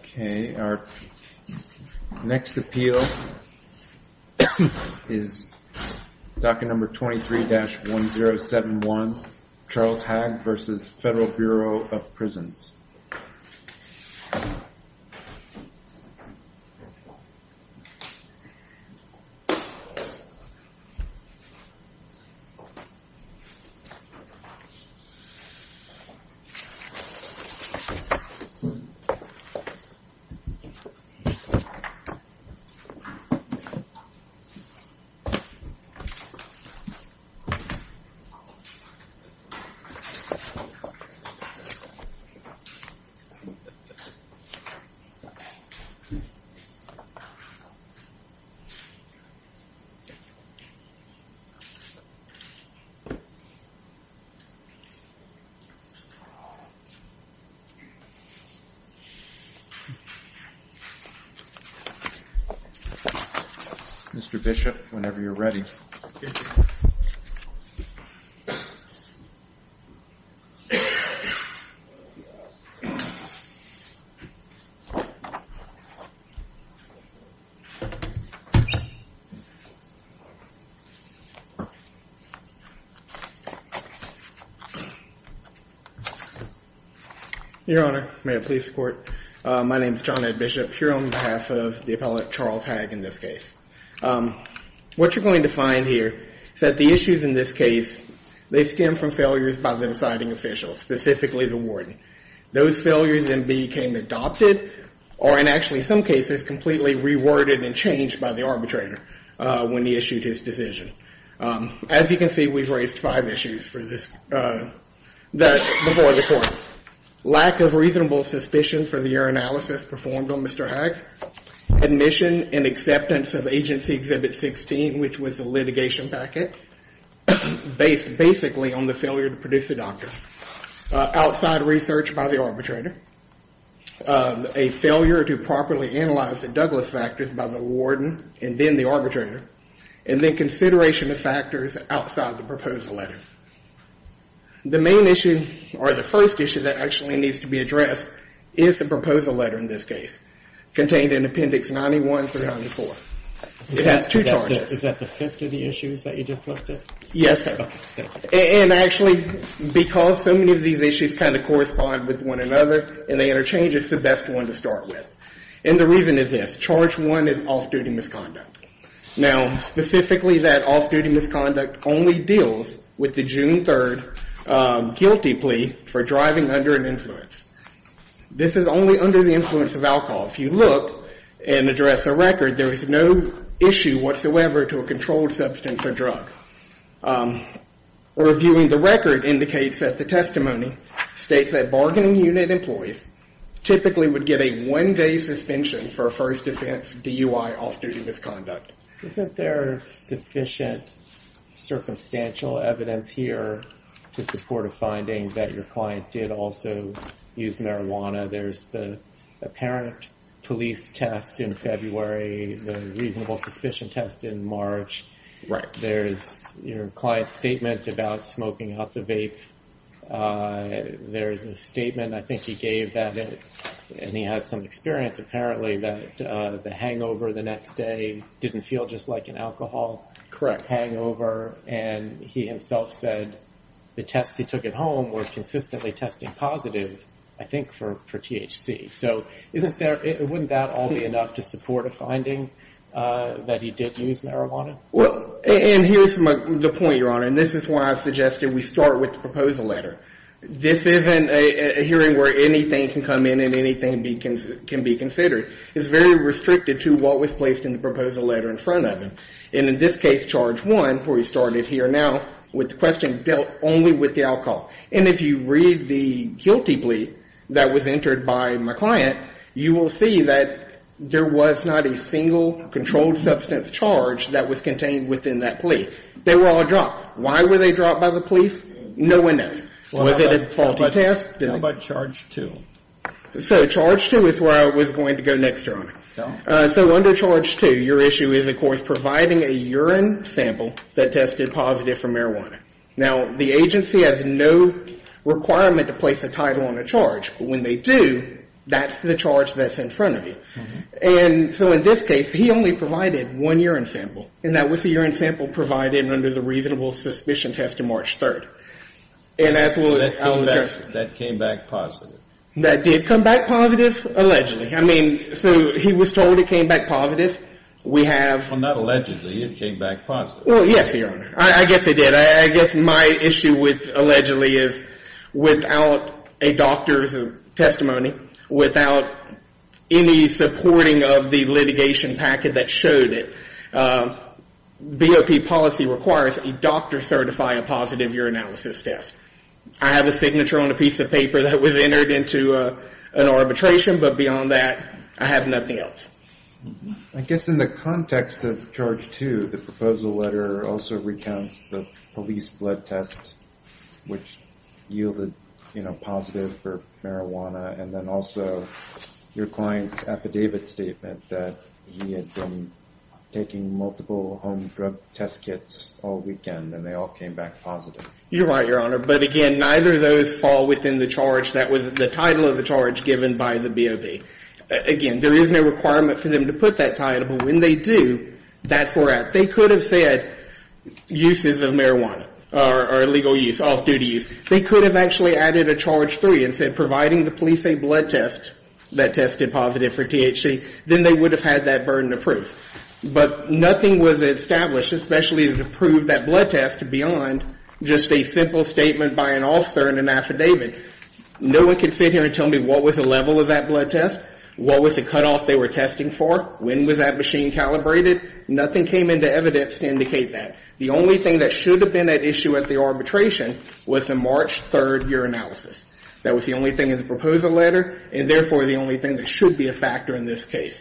Okay, our next appeal is docket number 23-1071, Charles Hagg v. Federal Bureau of Prisons. Okay, our next appeal is docket number 23-1071, Charles Hagg v. Federal Bureau of Prisons. Mr. Bishop, whenever you're ready. Your Honor, may I please report? My name is John Ed Bishop here on behalf of the appellate Charles Hagg in this case. What you're going to find here is that the issues in this case, they stem from failures by the deciding official, specifically the warden. Those failures then became adopted or in actually some cases completely reworded and changed by the arbitrator when he issued his decision. As you can see, we've raised five issues for this before the Court. Lack of reasonable suspicion for the error analysis performed on Mr. Hagg, admission and acceptance of Agency Exhibit 16, which was the litigation packet, based basically on the failure to produce a doctor. Outside research by the arbitrator. A failure to properly analyze the Douglas factors by the warden and then the arbitrator. And then consideration of factors outside the proposal letter. The main issue or the first issue that actually needs to be addressed is the proposal letter in this case, contained in Appendix 91 through 94. It has two charges. Is that the fifth of the issues that you just listed? Yes, sir. Okay. And actually, because so many of these issues kind of correspond with one another and they interchange, it's the best one to start with. And the reason is this. Charge one is off-duty misconduct. Now, specifically that off-duty misconduct only deals with the June 3 guilty plea for driving under an influence. This is only under the influence of alcohol. If you look and address a record, there is no issue whatsoever to a controlled substance or drug. Reviewing the record indicates that the testimony states that bargaining unit employees typically would get a one-day suspension for a first offense DUI off-duty misconduct. Isn't there sufficient circumstantial evidence here to support a finding that your client did also use marijuana? There's the apparent police test in February, the reasonable suspicion test in March. Right. There's your client's statement about smoking out the vape. There's a statement I think he gave, and he has some experience apparently, that the hangover the next day didn't feel just like an alcohol hangover. Correct. And he himself said the tests he took at home were consistently testing positive, I think, for THC. So wouldn't that all be enough to support a finding that he did use marijuana? Well, and here's the point, Your Honor, and this is why I suggested we start with the proposal letter. This isn't a hearing where anything can come in and anything can be considered. It's very restricted to what was placed in the proposal letter in front of him. And in this case, charge one, where we started here now, with the question dealt only with the alcohol. And if you read the guilty plea that was entered by my client, you will see that there was not a single controlled substance charge that was contained within that plea. They were all dropped. Why were they dropped by the police? No one knows. Was it a faulty test? How about charge two? So charge two is where I was going to go next, Your Honor. So under charge two, your issue is, of course, providing a urine sample that tested positive for marijuana. Now, the agency has no requirement to place a title on a charge. But when they do, that's the charge that's in front of you. And so in this case, he only provided one urine sample, and that was the urine sample provided under the reasonable suspicion test on March 3rd. And as we'll address it. That came back positive. That did come back positive, allegedly. I mean, so he was told it came back positive. We have. Well, not allegedly. It came back positive. Well, yes, Your Honor. I guess it did. I guess my issue with allegedly is without a doctor's testimony, without any supporting of the litigation packet that showed it, BOP policy requires a doctor certify a positive urinalysis test. I have a signature on a piece of paper that was entered into an arbitration, but beyond that, I have nothing else. I guess in the context of Charge 2, the proposal letter also recounts the police blood test, which yielded positive for marijuana, and then also your client's affidavit statement that he had been taking multiple home drug test kits all weekend, and they all came back positive. You're right, Your Honor. But, again, neither of those fall within the charge. Again, there is no requirement for them to put that title, but when they do, that's where we're at. They could have said uses of marijuana or illegal use, off-duty use. They could have actually added a Charge 3 and said providing the police a blood test that tested positive for THC, then they would have had that burden of proof. But nothing was established, especially to prove that blood test, beyond just a simple statement by an officer in an affidavit. No one can sit here and tell me what was the level of that blood test, what was the cutoff they were testing for, when was that machine calibrated. Nothing came into evidence to indicate that. The only thing that should have been at issue at the arbitration was the March 3rd year analysis. That was the only thing in the proposal letter, and therefore the only thing that should be a factor in this case.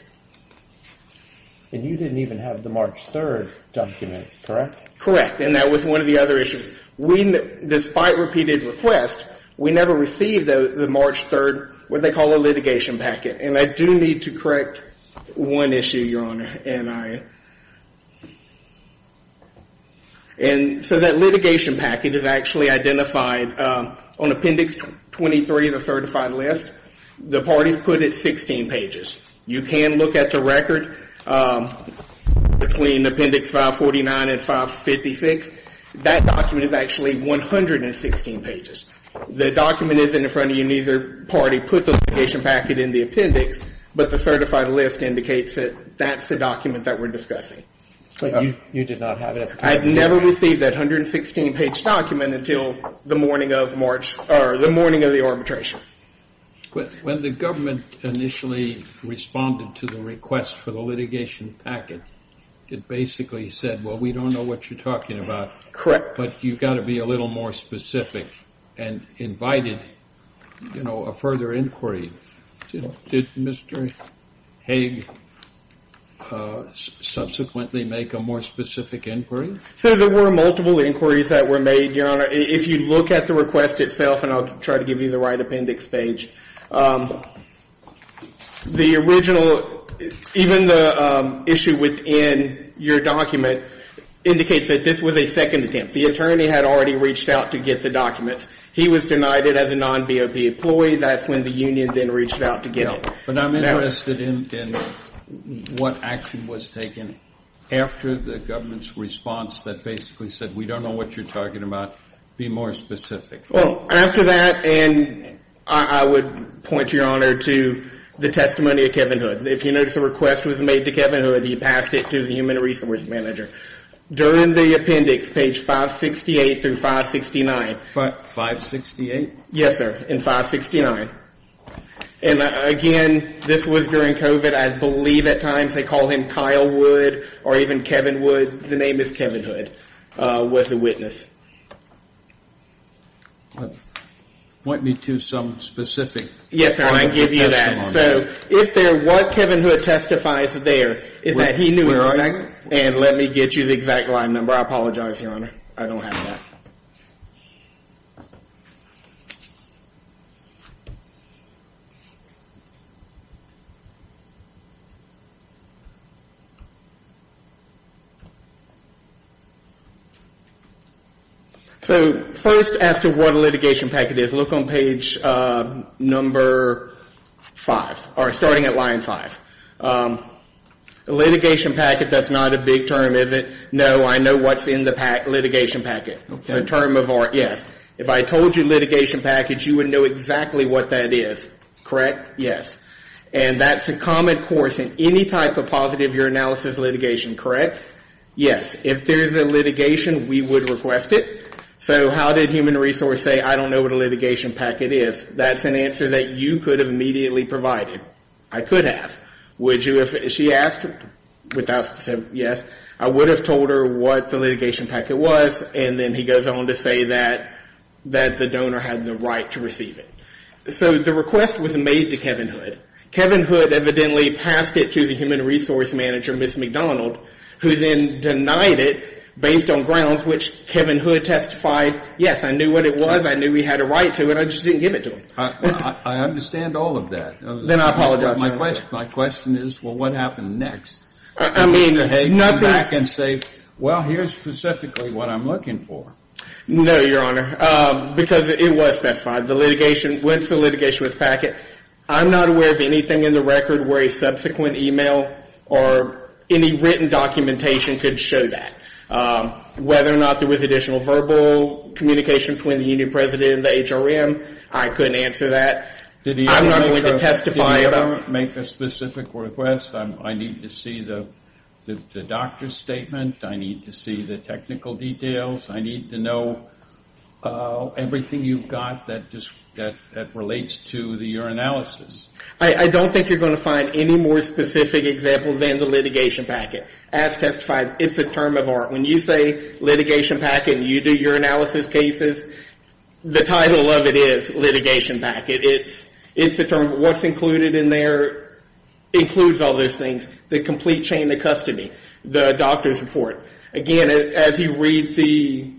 And you didn't even have the March 3rd documents, correct? Correct. And that was one of the other issues. Despite repeated requests, we never received the March 3rd, what they call a litigation packet. And I do need to correct one issue, Your Honor. And so that litigation packet is actually identified on Appendix 23, the certified list. The parties put it 16 pages. You can look at the record between Appendix 549 and 556. That document is actually 116 pages. The document isn't in front of you, neither party put the litigation packet in the appendix, but the certified list indicates that that's the document that we're discussing. But you did not have it at the time? I never received that 116-page document until the morning of the arbitration. When the government initially responded to the request for the litigation packet, it basically said, well, we don't know what you're talking about. Correct. But you've got to be a little more specific and invited, you know, a further inquiry. Did Mr. Haig subsequently make a more specific inquiry? So there were multiple inquiries that were made, Your Honor. If you look at the request itself, and I'll try to give you the right appendix page, the original, even the issue within your document indicates that this was a second attempt. The attorney had already reached out to get the document. He was denied it as a non-BOP employee. That's when the union then reached out to get it. But I'm interested in what action was taken after the government's response that basically said, we don't know what you're talking about. Be more specific. Well, after that, and I would point, Your Honor, to the testimony of Kevin Hood. If you notice a request was made to Kevin Hood, he passed it to the human resource manager. During the appendix, page 568 through 569. 568? Yes, sir. In 569. And again, this was during COVID. I believe at times they called him Kyle Wood or even Kevin Wood. The name is Kevin Hood was the witness. Point me to some specific. Yes, sir, I can give you that. So if there, what Kevin Hood testifies there is that he knew. And let me get you the exact line number. I apologize, Your Honor. I don't have that. So first, as to what a litigation packet is, look on page number five, or starting at line five. A litigation packet, that's not a big term, is it? No, I know what's in the litigation packet. It's a term of art, yes. If I told you litigation package, you would know exactly what that is. Correct? Yes. And that's a common course in any type of positive year analysis litigation, correct? Yes. If there's a litigation, we would request it. So how did human resource say, I don't know what a litigation packet is? That's an answer that you could have immediately provided. I could have. She asked, without saying yes, I would have told her what the litigation packet was, and then he goes on to say that the donor had the right to receive it. So the request was made to Kevin Hood. Kevin Hood evidently passed it to the human resource manager, Ms. McDonald, who then denied it based on grounds which Kevin Hood testified, yes, I knew what it was. I knew he had a right to it. I just didn't give it to him. I understand all of that. Then I apologize, Your Honor. My question is, well, what happened next? I mean, nut back and say, well, here's specifically what I'm looking for. No, Your Honor, because it was specified. The litigation, once the litigation was packet, I'm not aware of anything in the record where a subsequent e-mail or any written documentation could show that. Whether or not there was additional verbal communication between the union president and the HRM, I couldn't answer that. I'm not going to testify about it. Did he ever make a specific request? I need to see the doctor's statement. I need to see the technical details. I need to know everything you've got that relates to the urinalysis. I don't think you're going to find any more specific examples than the litigation packet. As testified, it's a term of art. When you say litigation packet and you do urinalysis cases, the title of it is litigation packet. It's the term. What's included in there includes all those things. The complete chain of custody, the doctor's report. Again, as you read the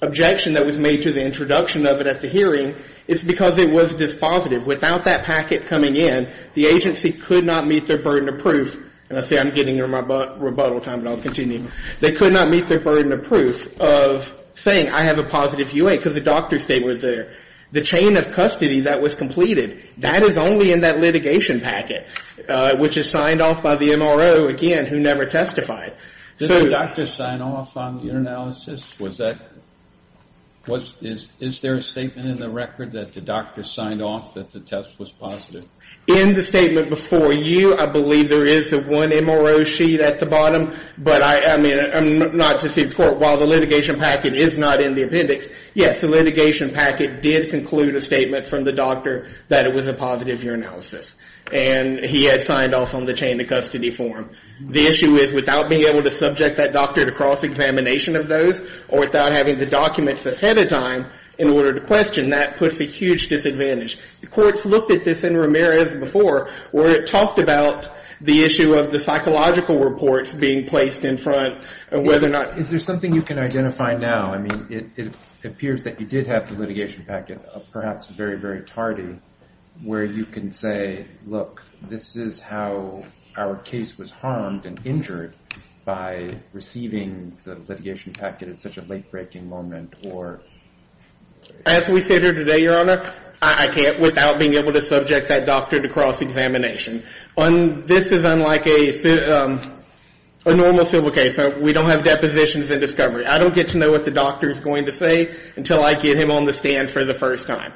objection that was made to the introduction of it at the hearing, it's because it was dispositive. Without that packet coming in, the agency could not meet their burden of proof. And I say I'm getting near my rebuttal time, but I'll continue. They could not meet their burden of proof of saying I have a positive U.A. because the doctors, they were there. The chain of custody that was completed, that is only in that litigation packet, which is signed off by the MRO, again, who never testified. Did the doctor sign off on the urinalysis? Is there a statement in the record that the doctor signed off that the test was positive? In the statement before you, I believe there is a one MRO sheet at the bottom, but I mean, not to deceive the court, while the litigation packet is not in the appendix, yes, the litigation packet did conclude a statement from the doctor that it was a positive urinalysis. And he had signed off on the chain of custody form. The issue is without being able to subject that doctor to cross-examination of those or without having the documents ahead of time in order to question, that puts a huge disadvantage. The courts looked at this in Ramirez before where it talked about the issue of the psychological reports being placed in front of whether or not. Is there something you can identify now? I mean, it appears that you did have the litigation packet, perhaps very, very tardy, where you can say, look, this is how our case was harmed and injured by receiving the litigation packet at such a late-breaking moment or... This is unlike a normal civil case. We don't have depositions and discovery. I don't get to know what the doctor is going to say until I get him on the stand for the first time,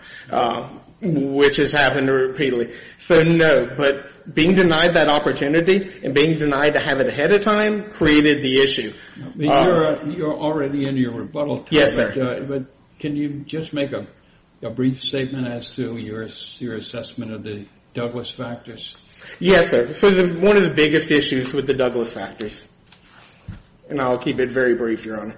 which has happened repeatedly. So, no, but being denied that opportunity and being denied to have it ahead of time created the issue. You're already in your rebuttal. Yes, sir. But can you just make a brief statement as to your assessment of the Douglas factors? Yes, sir. So one of the biggest issues with the Douglas factors, and I'll keep it very brief, Your Honor,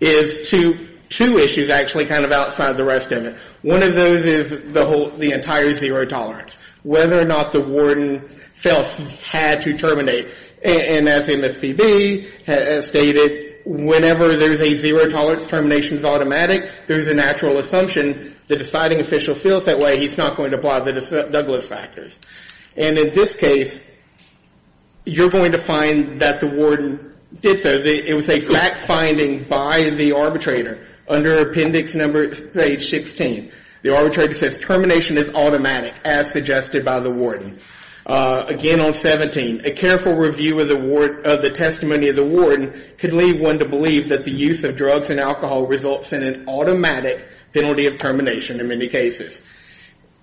is two issues actually kind of outside the rest of it. One of those is the entire zero tolerance, whether or not the warden felt he had to terminate. And as MSPB has stated, whenever there's a zero tolerance, termination is automatic. There's a natural assumption the deciding official feels that way. He's not going to apply the Douglas factors. And in this case, you're going to find that the warden did so. It was a fact-finding by the arbitrator. Under Appendix No. 16, the arbitrator says termination is automatic, as suggested by the warden. Again on 17, a careful review of the testimony of the warden could lead one to believe that the use of drugs and alcohol results in an automatic penalty of termination in many cases.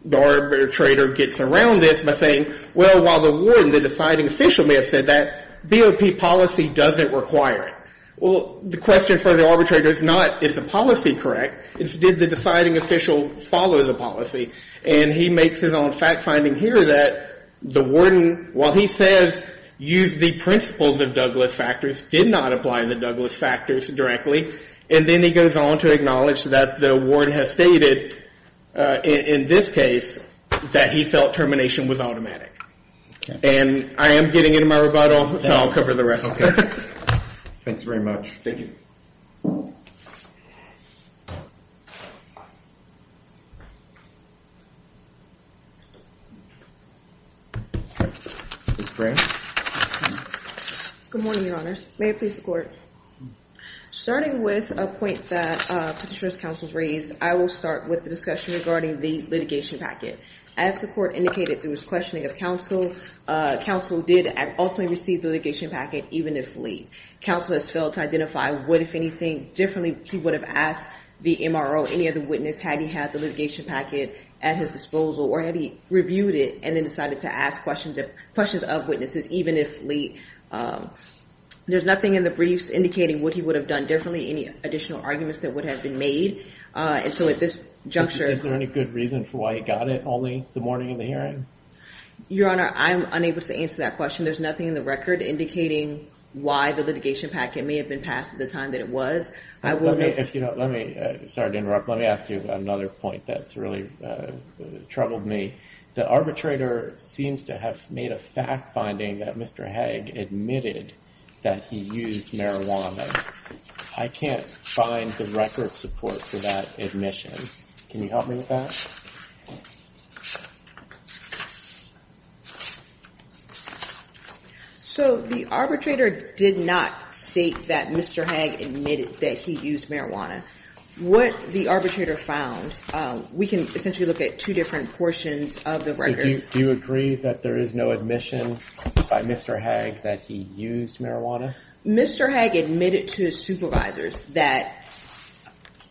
The arbitrator gets around this by saying, well, while the warden, the deciding official may have said that, BOP policy doesn't require it. Well, the question for the arbitrator is not is the policy correct. It's did the deciding official follow the policy. And he makes his own fact-finding here that the warden, while he says use the principles of Douglas factors, did not apply the Douglas factors directly. And then he goes on to acknowledge that the warden has stated in this case that he felt termination was automatic. And I am getting into my rebuttal, so I'll cover the rest. Thanks very much. Thank you. Good morning, Your Honors. May it please the Court. Starting with a point that Petitioner's Counsel has raised, I will start with the discussion regarding the litigation packet. As the Court indicated through its questioning of Counsel, Counsel did ultimately receive the litigation packet, even if late. Counsel has failed to identify what, if anything differently, he would have asked the MRO, any other witness, had he had the litigation packet at his disposal or had he reviewed it and then decided to ask questions of witnesses, even if late. There's nothing in the briefs indicating what he would have done differently, any additional arguments that would have been made. Is there any good reason for why he got it only the morning of the hearing? Your Honor, I'm unable to answer that question. There's nothing in the record indicating why the litigation packet may have been passed at the time that it was. Let me ask you another point that's really troubled me. The arbitrator seems to have made a fact-finding that Mr. Haig admitted that he used marijuana. I can't find the record support for that admission. Can you help me with that? So the arbitrator did not state that Mr. Haig admitted that he used marijuana. What the arbitrator found, we can essentially look at two different portions of the record. So do you agree that there is no admission by Mr. Haig that he used marijuana? Mr. Haig admitted to his supervisors that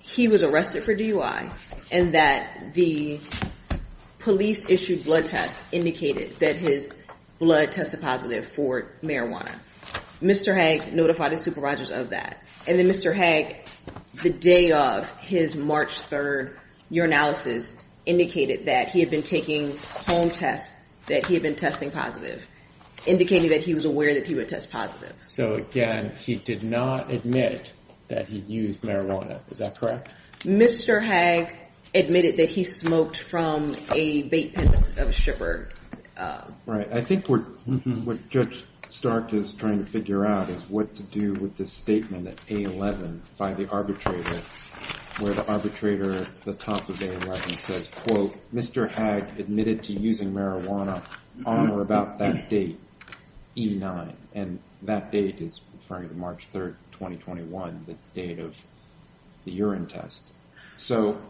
he was arrested for DUI and that the police-issued blood tests indicated that his blood tested positive for marijuana. Mr. Haig notified his supervisors of that. And then Mr. Haig, the day of his March 3rd urinalysis, indicated that he had been taking home tests, that he had been testing positive, indicating that he was aware that he would test positive. So, again, he did not admit that he used marijuana. Is that correct? Mr. Haig admitted that he smoked from a vape pen of a shipper. Right. I think what Judge Stark is trying to figure out is what to do with this statement at A11 by the arbitrator where the arbitrator at the top of A11 says, quote, Mr. Haig admitted to using marijuana on or about that date, E9. And that date is referring to March 3rd, 2021, the date of the urine test. So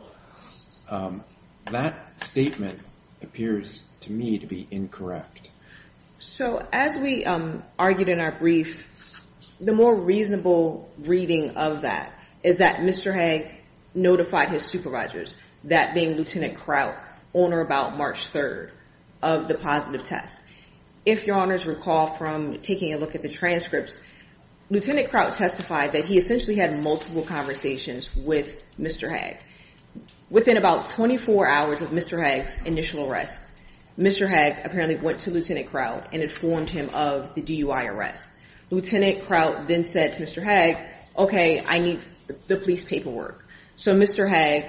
that statement appears to me to be incorrect. So as we argued in our brief, the more reasonable reading of that is that Mr. Haig notified his supervisors, that being Lieutenant Kraut, on or about March 3rd of the positive test. If your honors recall from taking a look at the transcripts, Lieutenant Kraut testified that he essentially had multiple conversations with Mr. Haig. Within about 24 hours of Mr. Haig's initial arrest, Mr. Haig apparently went to Lieutenant Kraut and informed him of the DUI arrest. Lieutenant Kraut then said to Mr. Haig, okay, I need the police paperwork. So Mr. Haig,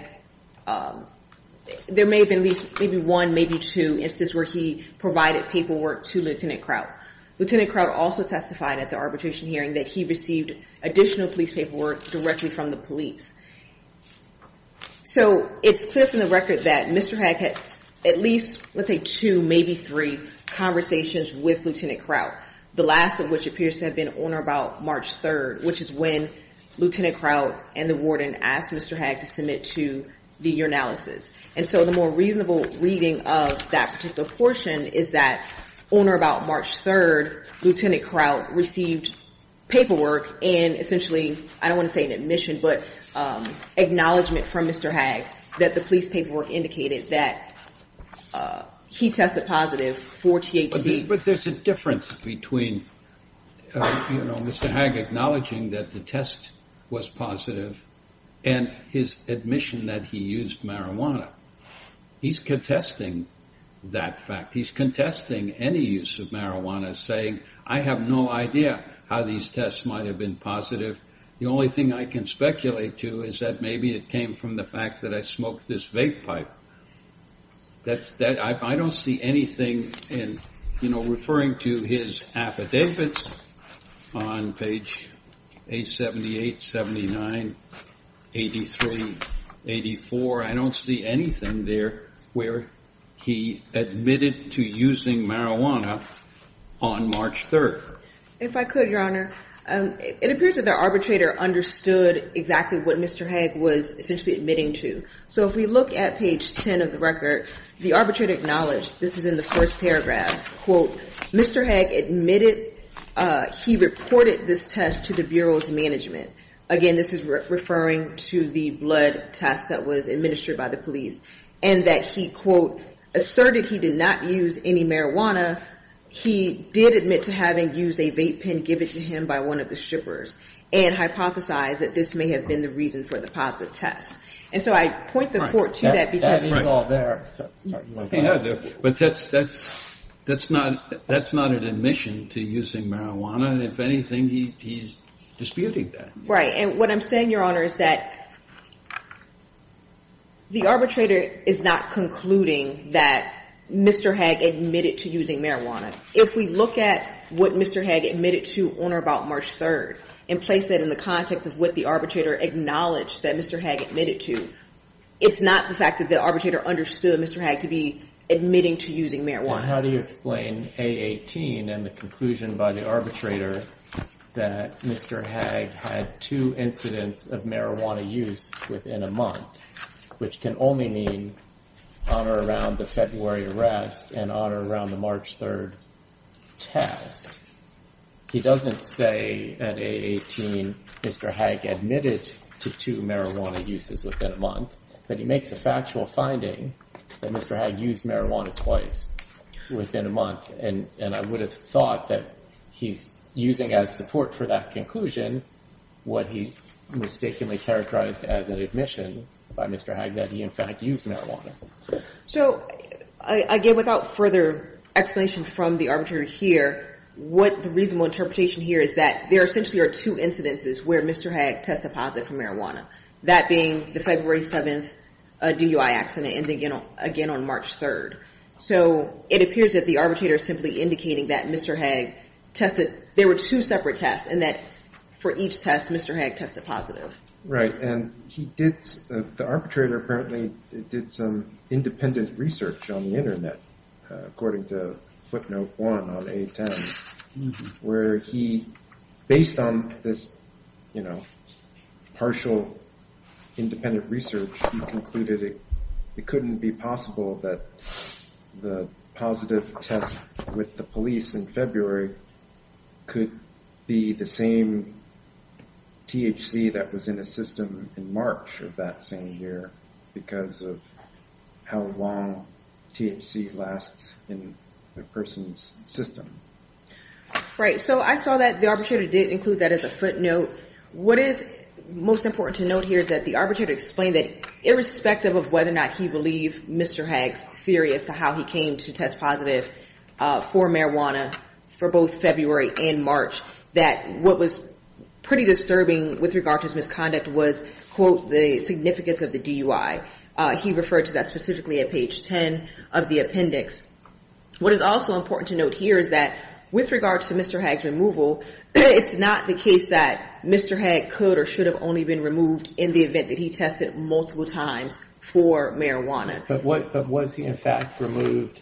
there may have been at least maybe one, maybe two instances where he provided paperwork to Lieutenant Kraut. Lieutenant Kraut also testified at the arbitration hearing that he received additional police paperwork directly from the police. So it's clear from the record that Mr. Haig had at least, let's say, two, maybe three conversations with Lieutenant Kraut, the last of which appears to have been on or about March 3rd, which is when Lieutenant Kraut and the warden asked Mr. Haig to submit to the urinalysis. And so the more reasonable reading of that particular portion is that on or about March 3rd, Lieutenant Kraut received paperwork and essentially, I don't want to say an admission, but acknowledgement from Mr. Haig that the police paperwork indicated that he tested positive for THC. But there's a difference between Mr. Haig acknowledging that the test was positive and his admission that he used marijuana. He's contesting that fact. He's contesting any use of marijuana, saying, I have no idea how these tests might have been positive. The only thing I can speculate to is that maybe it came from the fact that I smoked this vape pipe. I don't see anything in, you know, referring to his affidavits on page 878, 79, 83, 84. I don't see anything there where he admitted to using marijuana on March 3rd. If I could, Your Honor, it appears that the arbitrator understood exactly what Mr. Haig was essentially admitting to. So if we look at page 10 of the record, the arbitrator acknowledged this is in the first paragraph. Quote, Mr. Haig admitted he reported this test to the bureau's management. Again, this is referring to the blood test that was administered by the police and that he, quote, asserted he did not use any marijuana. He did admit to having used a vape pen given to him by one of the strippers and hypothesized that this may have been the reason for the positive test. And so I point the Court to that because he's all there. Kennedy. But that's not an admission to using marijuana. If anything, he's disputing that. Right. And what I'm saying, Your Honor, is that the arbitrator is not concluding that Mr. Haig admitted to using marijuana. If we look at what Mr. Haig admitted to on or about March 3rd and place that in the context of what the arbitrator acknowledged that Mr. Haig admitted to, it's not the fact that the arbitrator understood Mr. Haig to be admitting to using marijuana. Now, how do you explain A18 and the conclusion by the arbitrator that Mr. Haig had two incidents of marijuana use within a month, which can only mean on or around the February arrest and on or around the March 3rd test? He doesn't say at A18 Mr. Haig admitted to two marijuana uses within a month, but he makes a factual finding that Mr. Haig used marijuana twice within a month. And I would have thought that he's using as support for that conclusion what he mistakenly characterized as an admission by Mr. Haig that he, in fact, used marijuana. So, again, without further explanation from the arbitrator here, what the reasonable interpretation here is that there essentially are two incidences where Mr. Haig tested positive for marijuana, that being the February 7th DUI accident and again on March 3rd. So it appears that the arbitrator is simply indicating that Mr. Haig tested. There were two separate tests and that for each test, Mr. Haig tested positive. Right. And he did. The arbitrator apparently did some independent research on the Internet, according to footnote one on A10, where he, based on this, you know, partial independent research, he concluded it couldn't be possible that the positive test with the police in February could be the same THC that was in a system in March of that same year because of how long THC lasts in a person's system. Right. So I saw that the arbitrator did include that as a footnote. What is most important to note here is that the arbitrator explained that irrespective of whether or not he believed Mr. Haig's theory as to how he came to test positive for marijuana for both February and March, that what was pretty disturbing with regard to his misconduct was, quote, the significance of the DUI. He referred to that specifically at page 10 of the appendix. What is also important to note here is that with regard to Mr. Haig's removal, it's not the case that Mr. Haig could or should have only been removed in the event that he tested multiple times for marijuana. But what was he, in fact, removed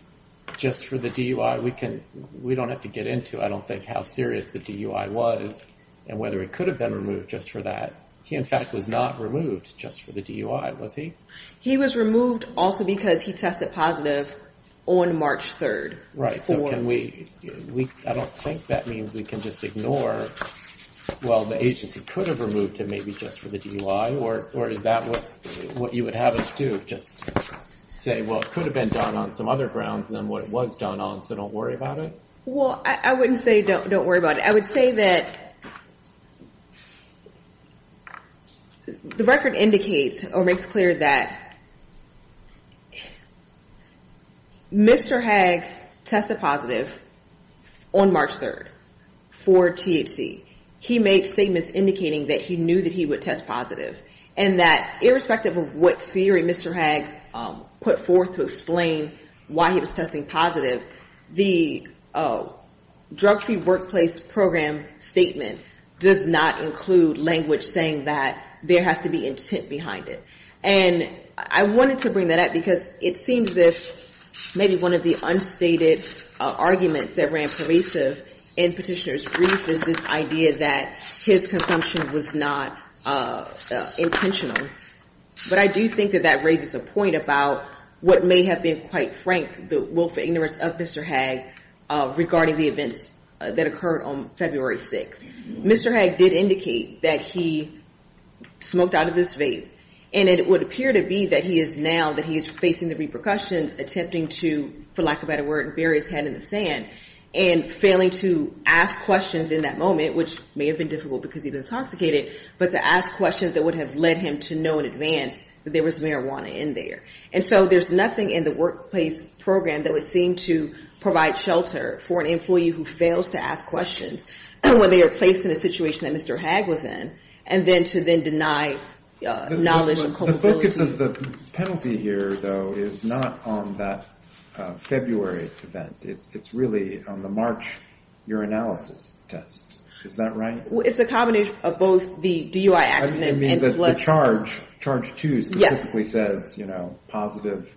just for the DUI? We can we don't have to get into I don't think how serious the DUI was and whether it could have been removed just for that. He, in fact, was not removed just for the DUI, was he? He was removed also because he tested positive on March 3rd. Right. So can we I don't think that means we can just ignore. Well, the agency could have removed him maybe just for the DUI. Or is that what you would have us do? Just say, well, it could have been done on some other grounds than what it was done on. So don't worry about it. Well, I wouldn't say don't don't worry about it. I would say that. The record indicates or makes clear that. Mr. Haig tested positive on March 3rd for THC. He made statements indicating that he knew that he would test positive and that irrespective of what theory Mr. Haig put forth to explain why he was testing positive. The drug free workplace program statement does not include language saying that there has to be intent behind it. And I wanted to bring that up because it seems if maybe one of the unstated arguments that ran pervasive in petitioners brief is this idea that his consumption was not intentional. But I do think that that raises a point about what may have been quite frank. The willful ignorance of Mr. Haig regarding the events that occurred on February 6th. Mr. Haig did indicate that he smoked out of this vape. And it would appear to be that he is now that he is facing the repercussions, attempting to, for lack of a better word, bury his head in the sand and failing to ask questions in that moment, which may have been difficult because he's intoxicated. But to ask questions that would have led him to know in advance that there was marijuana in there. And so there's nothing in the workplace program that would seem to provide shelter for an employee who fails to ask questions when they are placed in a situation that Mr. Haig was in. And then to then deny knowledge and culpability. The focus of the penalty here, though, is not on that February event. It's really on the March urinalysis test. Is that right? Well, it's a combination of both the DUI accident and the charge. Charge 2 specifically says, you know, positive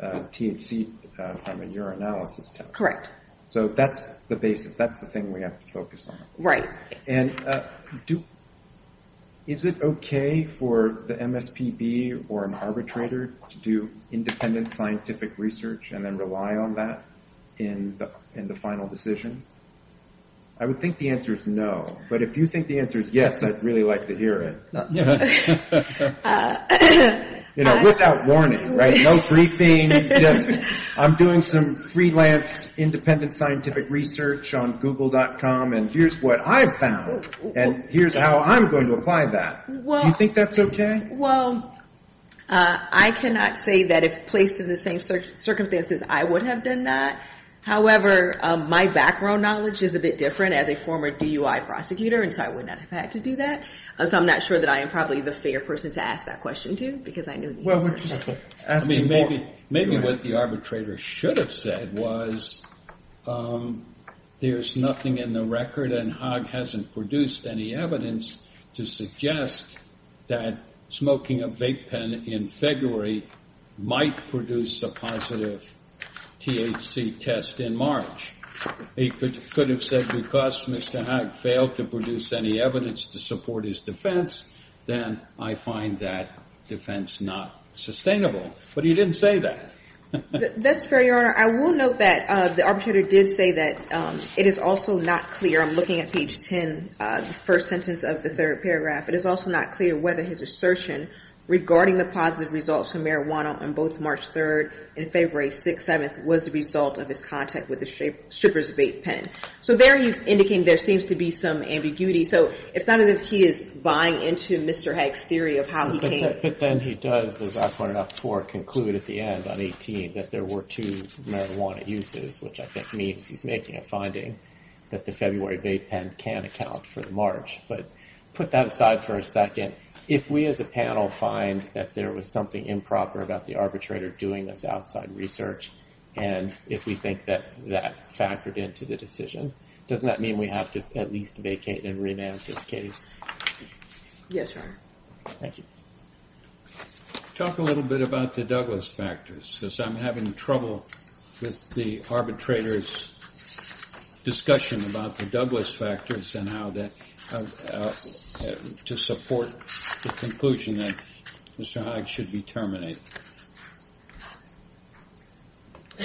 THC from a urinalysis test. Correct. So that's the basis. That's the thing we have to focus on. Right. And is it OK for the MSPB or an arbitrator to do independent scientific research and then rely on that in the final decision? I would think the answer is no. But if you think the answer is yes, I'd really like to hear it. You know, without warning. Right. No briefing. Yes. I'm doing some freelance independent scientific research on Google dot com. And here's what I found. And here's how I'm going to apply that. Well, I think that's OK. Well, I cannot say that if placed in the same search circumstances, I would have done that. However, my background knowledge is a bit different as a former DUI prosecutor. And so I would not have had to do that. So I'm not sure that I am probably the fair person to ask that question to, because I know. Well, we're just asking maybe maybe what the arbitrator should have said was there's nothing in the record and Hogg hasn't produced any evidence to suggest that smoking a vape pen in February might produce a positive THC test. In March, he could could have said because Mr. Hague failed to produce any evidence to support his defense. Then I find that defense not sustainable. But he didn't say that. That's fair. Your Honor, I will note that the arbitrator did say that it is also not clear. I'm looking at page 10, the first sentence of the third paragraph. It is also not clear whether his assertion regarding the positive results from marijuana on both March 3rd and February 6th. And February 7th was the result of his contact with the strippers vape pen. So there he's indicating there seems to be some ambiguity. So it's not as if he is buying into Mr. Hague's theory of how he came. But then he does, as I pointed out before, conclude at the end on 18 that there were two marijuana uses, which I think means he's making a finding that the February vape pen can account for the March. But put that aside for a second. If we as a panel find that there was something improper about the arbitrator doing this outside research, and if we think that that factored into the decision, doesn't that mean we have to at least vacate and remand this case? Yes, Your Honor. Thank you. Talk a little bit about the Douglas factors, as I'm having trouble with the arbitrator's discussion about the Douglas factors and how to support the conclusion that Mr. Hague should be terminated. I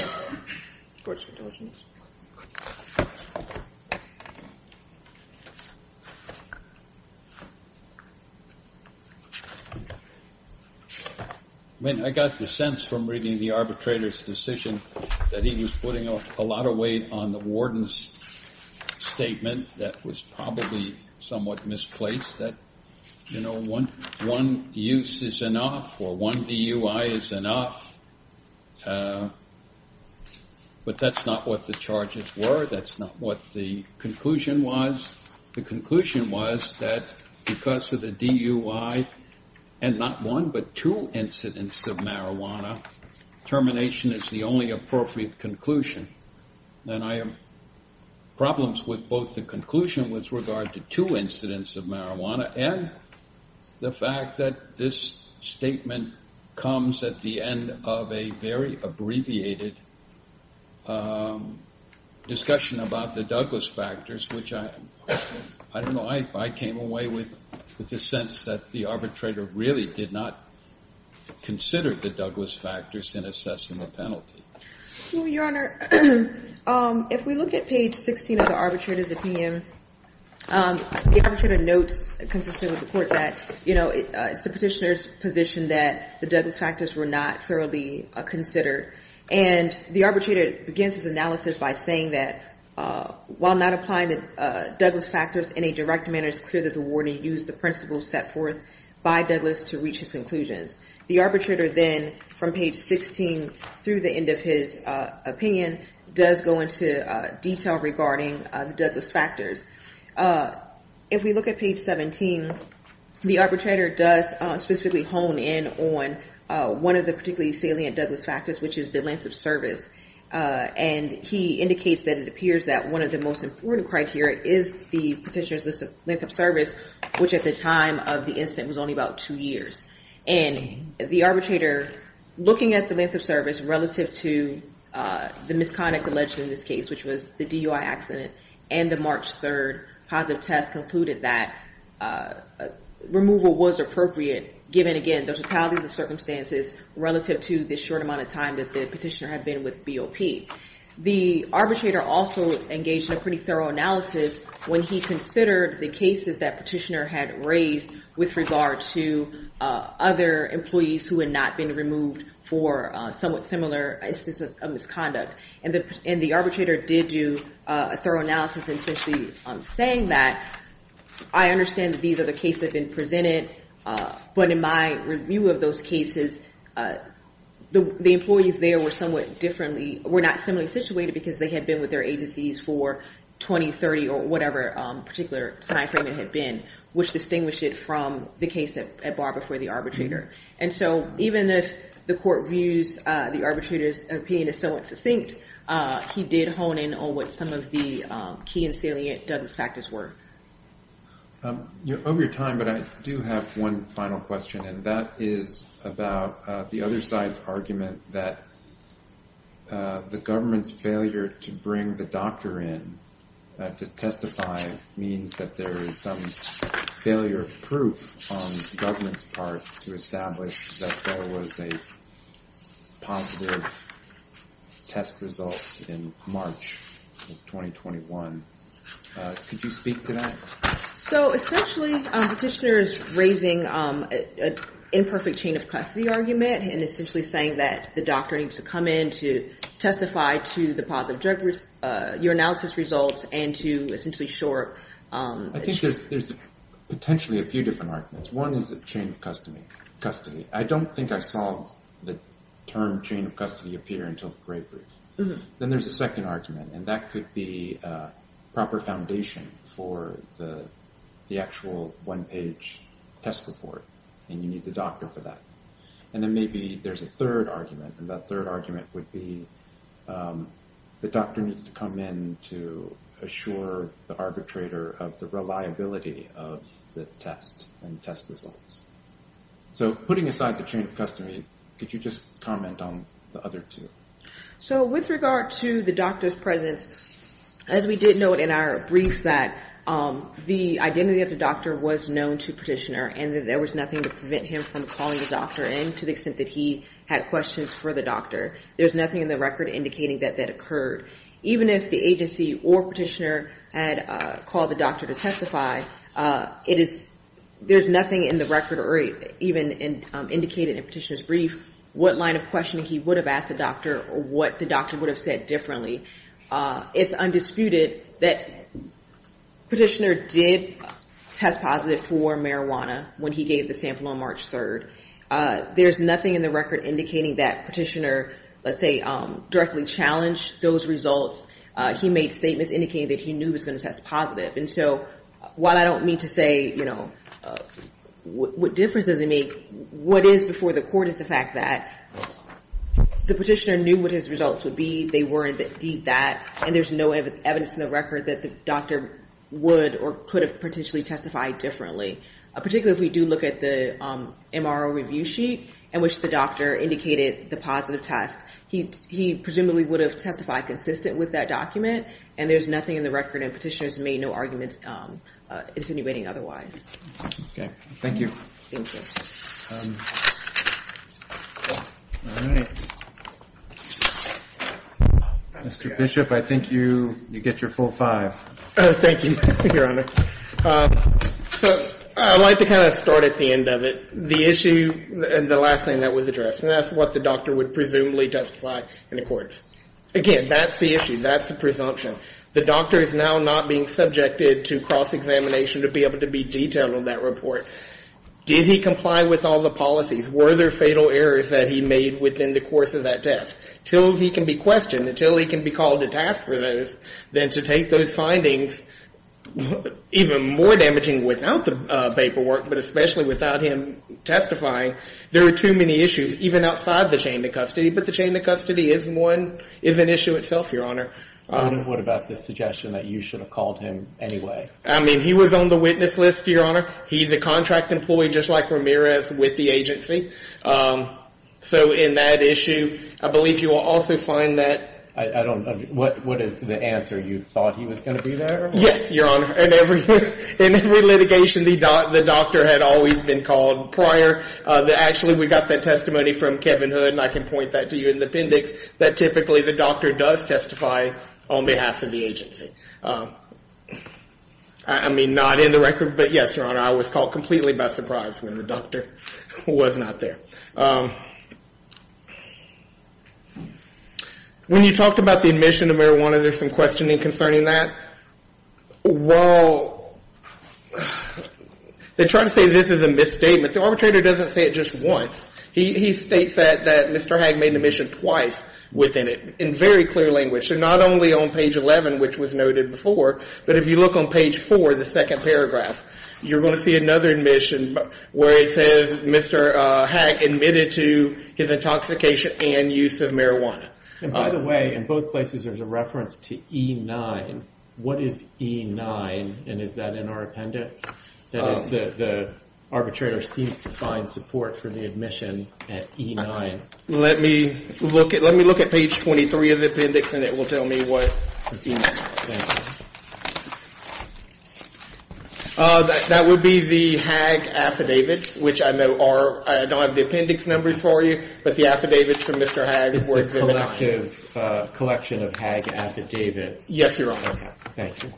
mean, I got the sense from reading the arbitrator's decision that he was putting a lot of weight on the warden's statement that was probably somewhat misplaced, that one use is enough or one DUI is enough. But that's not what the charges were. That's not what the conclusion was. The conclusion was that because of the DUI and not one but two incidents of marijuana, termination is the only appropriate conclusion. And I have problems with both the conclusion with regard to two incidents of marijuana and the fact that this statement comes at the end of a very abbreviated discussion about the Douglas factors, which I came away with the sense that the arbitrator really did not consider the Douglas factors in assessing the penalty. Well, Your Honor, if we look at page 16 of the arbitrator's opinion, the arbitrator notes consistent with the court that it's the petitioner's position that the Douglas factors were not thoroughly considered. And the arbitrator begins his analysis by saying that while not applying the Douglas factors in a direct manner, it's clear that the warden used the principles set forth by Douglas to reach his conclusions. The arbitrator then from page 16 through the end of his opinion does go into detail regarding the Douglas factors. If we look at page 17, the arbitrator does specifically hone in on one of the particularly salient Douglas factors, which is the length of service. And he indicates that it appears that one of the most important criteria is the petitioner's length of service, which at the time of the incident was only about two years. And the arbitrator, looking at the length of service relative to the misconduct alleged in this case, which was the DUI accident and the March 3rd positive test concluded that removal was appropriate, given, again, the totality of the circumstances relative to the short amount of time that the petitioner had been with BOP. The arbitrator also engaged in a pretty thorough analysis when he considered the cases that the petitioner had raised with regard to other employees who had not been removed for somewhat similar instances of misconduct. And the arbitrator did do a thorough analysis, essentially saying that, I understand that these are the cases that have been presented, but in my review of those cases, the employees there were not similarly situated because they had been with their agencies for 20, 30, or whatever particular timeframe it had been, which distinguished it from the case at bar before the arbitrator. And so even if the court views the arbitrator's opinion as somewhat succinct, he did hone in on what some of the key and salient Douglas factors were. Over your time, but I do have one final question, and that is about the other side's argument that the government's failure to bring the doctor in to testify means that there is some failure of proof on the government's part to establish that there was a positive test result in March of 2021. Could you speak to that? So essentially the petitioner is raising an imperfect chain of custody argument and essentially saying that the doctor needs to come in to testify to the positive drug, your analysis results, and to essentially shore... I think there's potentially a few different arguments. One is a chain of custody. I don't think I saw the term chain of custody appear until the great brief. Then there's a second argument, and that could be a proper foundation for the actual one-page test report, and you need the doctor for that. And then maybe there's a third argument, and that third argument would be the doctor needs to come in to assure the arbitrator of the reliability of the test and test results. So putting aside the chain of custody, could you just comment on the other two? So with regard to the doctor's presence, as we did note in our brief, the identity of the doctor was known to the petitioner, and there was nothing to prevent him from calling the doctor in to the extent that he had questions for the doctor. There's nothing in the record indicating that that occurred. Even if the agency or petitioner had called the doctor to testify, there's nothing in the record or even indicated in the petitioner's brief what line of questioning he would have asked the doctor or what the doctor would have said differently. It's undisputed that petitioner did test positive for marijuana when he gave the sample on March 3rd. There's nothing in the record indicating that petitioner, let's say, directly challenged those results. He made statements indicating that he knew he was going to test positive. And so while I don't mean to say, you know, what difference does it make, what is before the court is the fact that the petitioner knew what his results would be. They were indeed that, and there's no evidence in the record that the doctor would or could have potentially testified differently. Particularly if we do look at the MRO review sheet in which the doctor indicated the positive test. He presumably would have testified consistent with that document, and there's nothing in the record, and petitioners made no arguments insinuating otherwise. Thank you. Mr. Bishop, I think you get your full five. Thank you, Your Honor. I'd like to kind of start at the end of it. The issue and the last thing that was addressed, and that's what the doctor would presumably testify in the courts. Again, that's the issue. That's the presumption. The doctor is now not being subjected to cross-examination to be able to be detailed on that report. Did he comply with all the policies? Were there fatal errors that he made within the course of that test? Until he can be questioned, until he can be called to task for those, then to take those findings, even more damaging without the paperwork, but especially without him testifying, there are too many issues, even outside the chain of custody, but the chain of custody is one, is an issue itself, Your Honor. What about the suggestion that you should have called him anyway? I mean, he was on the witness list, Your Honor. He's a contract employee just like Ramirez with the agency. So in that issue, I believe you will also find that. I don't know. What is the answer? You thought he was going to be there? Yes, Your Honor. In every litigation, the doctor had always been called prior. Actually, we got that testimony from Kevin Hood, and I can point that to you in the appendix, that typically the doctor does testify on behalf of the agency. I mean, not in the record, but yes, Your Honor, I was called completely by surprise when the doctor was not there. When you talked about the admission of marijuana, there's some questioning concerning that? Well, they try to say this is a misstatement. The arbitrator doesn't say it just once. He states that Mr. Hagg made the admission twice within it, in very clear language. So not only on page 11, which was noted before, but if you look on page 15, which is before the second paragraph, you're going to see another admission where it says Mr. Hagg admitted to his intoxication and use of marijuana. And by the way, in both places, there's a reference to E9. What is E9, and is that in our appendix? That is, the arbitrator seems to find support for the admission at E9. Let me look at page 23 of the appendix, and it will tell me what E9 is. That would be the Hagg affidavit, which I know are — I don't have the appendix numbers for you, but the affidavits from Mr. Hagg were examined on it. It's a collective — collection of Hagg affidavits. Yes, Your Honor. Okay. Thank you.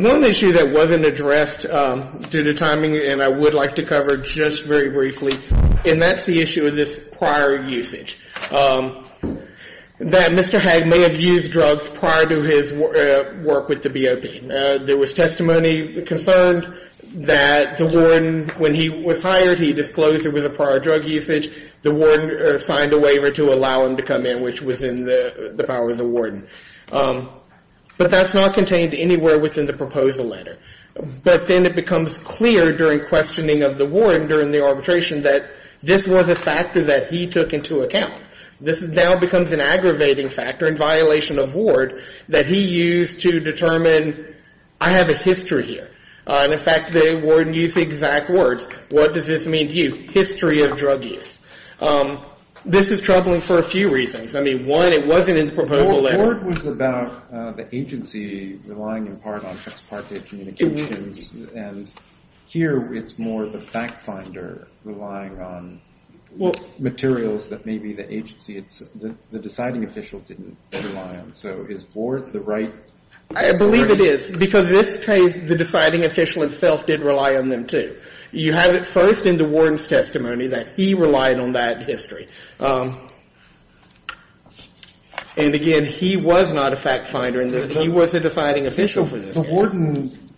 One issue that wasn't addressed due to timing and I would like to cover just very briefly, and that's the issue of this prior usage. That Mr. Hagg may have used drugs prior to his work with the BOP. There was testimony concerned that the warden, when he was hired, he disclosed there was a prior drug usage. The warden signed a waiver to allow him to come in, which was in the power of the warden. But that's not contained anywhere within the proposal letter. But then it becomes clear during questioning of the warden during the arbitration that this was a factor that he took into account. This now becomes an aggravating factor in violation of ward that he used to determine, I have a history here. And, in fact, the warden used the exact words, what does this mean to you, history of drug use. This is troubling for a few reasons. I mean, one, it wasn't in the proposal letter. Ward was about the agency relying in part on ex parte communications. It was. And here it's more of a fact finder relying on materials that maybe the agency, the deciding official didn't rely on. So is Ward the right? I believe it is. Because this case, the deciding official himself did rely on them, too. You have it first in the warden's testimony that he relied on that history. And, again, he was not a fact finder. He was the deciding official for this case. But the warden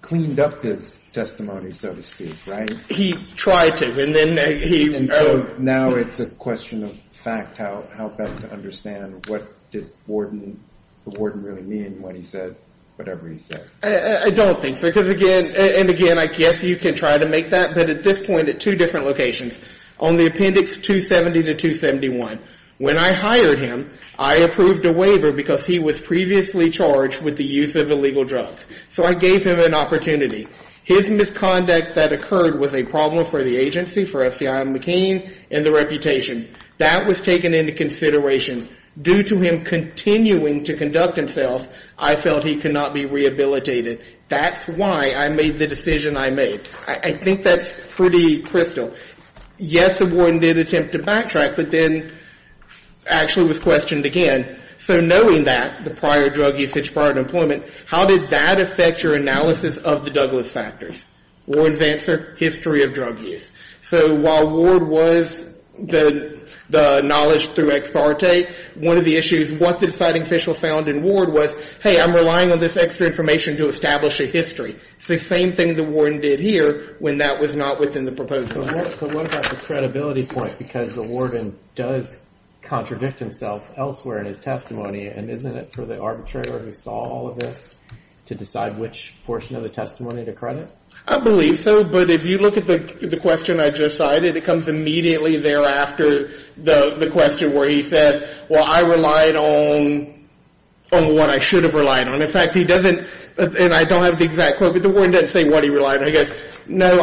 cleaned up his testimony, so to speak, right? He tried to. And then he. And so now it's a question of fact, how best to understand what did the warden really mean, what he said, whatever he said. I don't think so. Because, again, and, again, I guess you can try to make that. But at this point, at two different locations, on the appendix 270 to 271, when I hired him, I approved a waiver. Because he was previously charged with the use of illegal drugs. So I gave him an opportunity. His misconduct that occurred was a problem for the agency, for SCI McCain, and the reputation. That was taken into consideration. Due to him continuing to conduct himself, I felt he could not be rehabilitated. That's why I made the decision I made. I think that's pretty crystal. Yes, the warden did attempt to backtrack, but then actually was questioned again. So knowing that, the prior drug use, his prior employment, how did that affect your analysis of the Douglas factors? Warden's answer, history of drug use. So while Ward was the knowledge through ex parte, one of the issues, what the deciding official found in Ward was, hey, I'm relying on this extra information to establish a history. It's the same thing the warden did here when that was not within the proposal. So what about the credibility point? Because the warden does contradict himself elsewhere in his testimony. And isn't it for the arbitrator who saw all of this to decide which portion of the testimony to credit? I believe so. But if you look at the question I just cited, it comes immediately thereafter, the question where he said, well, I relied on what I should have relied on. In fact, he doesn't, and I don't have the exact quote, but the warden doesn't say what he relied on. He goes, no,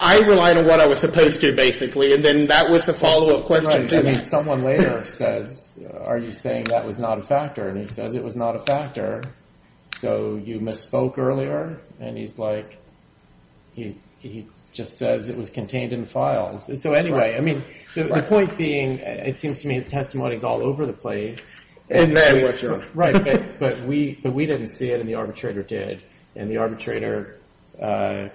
I relied on what I was supposed to, basically. And then that was the follow-up question. Someone later says, are you saying that was not a factor? And he says it was not a factor. So you misspoke earlier? And he's like, he just says it was contained in the file. So anyway, I mean, the point being, it seems to me his testimony is all over the place. And there it was. Right. But we didn't see it, and the arbitrator did. And the arbitrator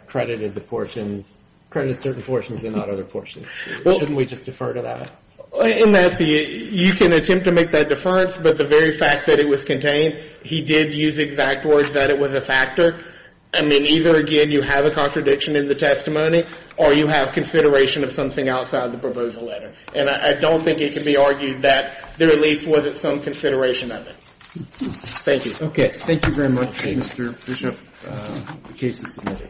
credited the portions, credited certain portions and not other portions. Shouldn't we just defer to that? In that, you can attempt to make that deference, but the very fact that it was contained, he did use exact words that it was a factor. I mean, either, again, you have a contradiction in the testimony, or you have consideration of something outside the proposal letter. And I don't think it can be argued that there at least wasn't some consideration of it. Thank you. Okay. Thank you very much, Mr. Bishop. The case is submitted.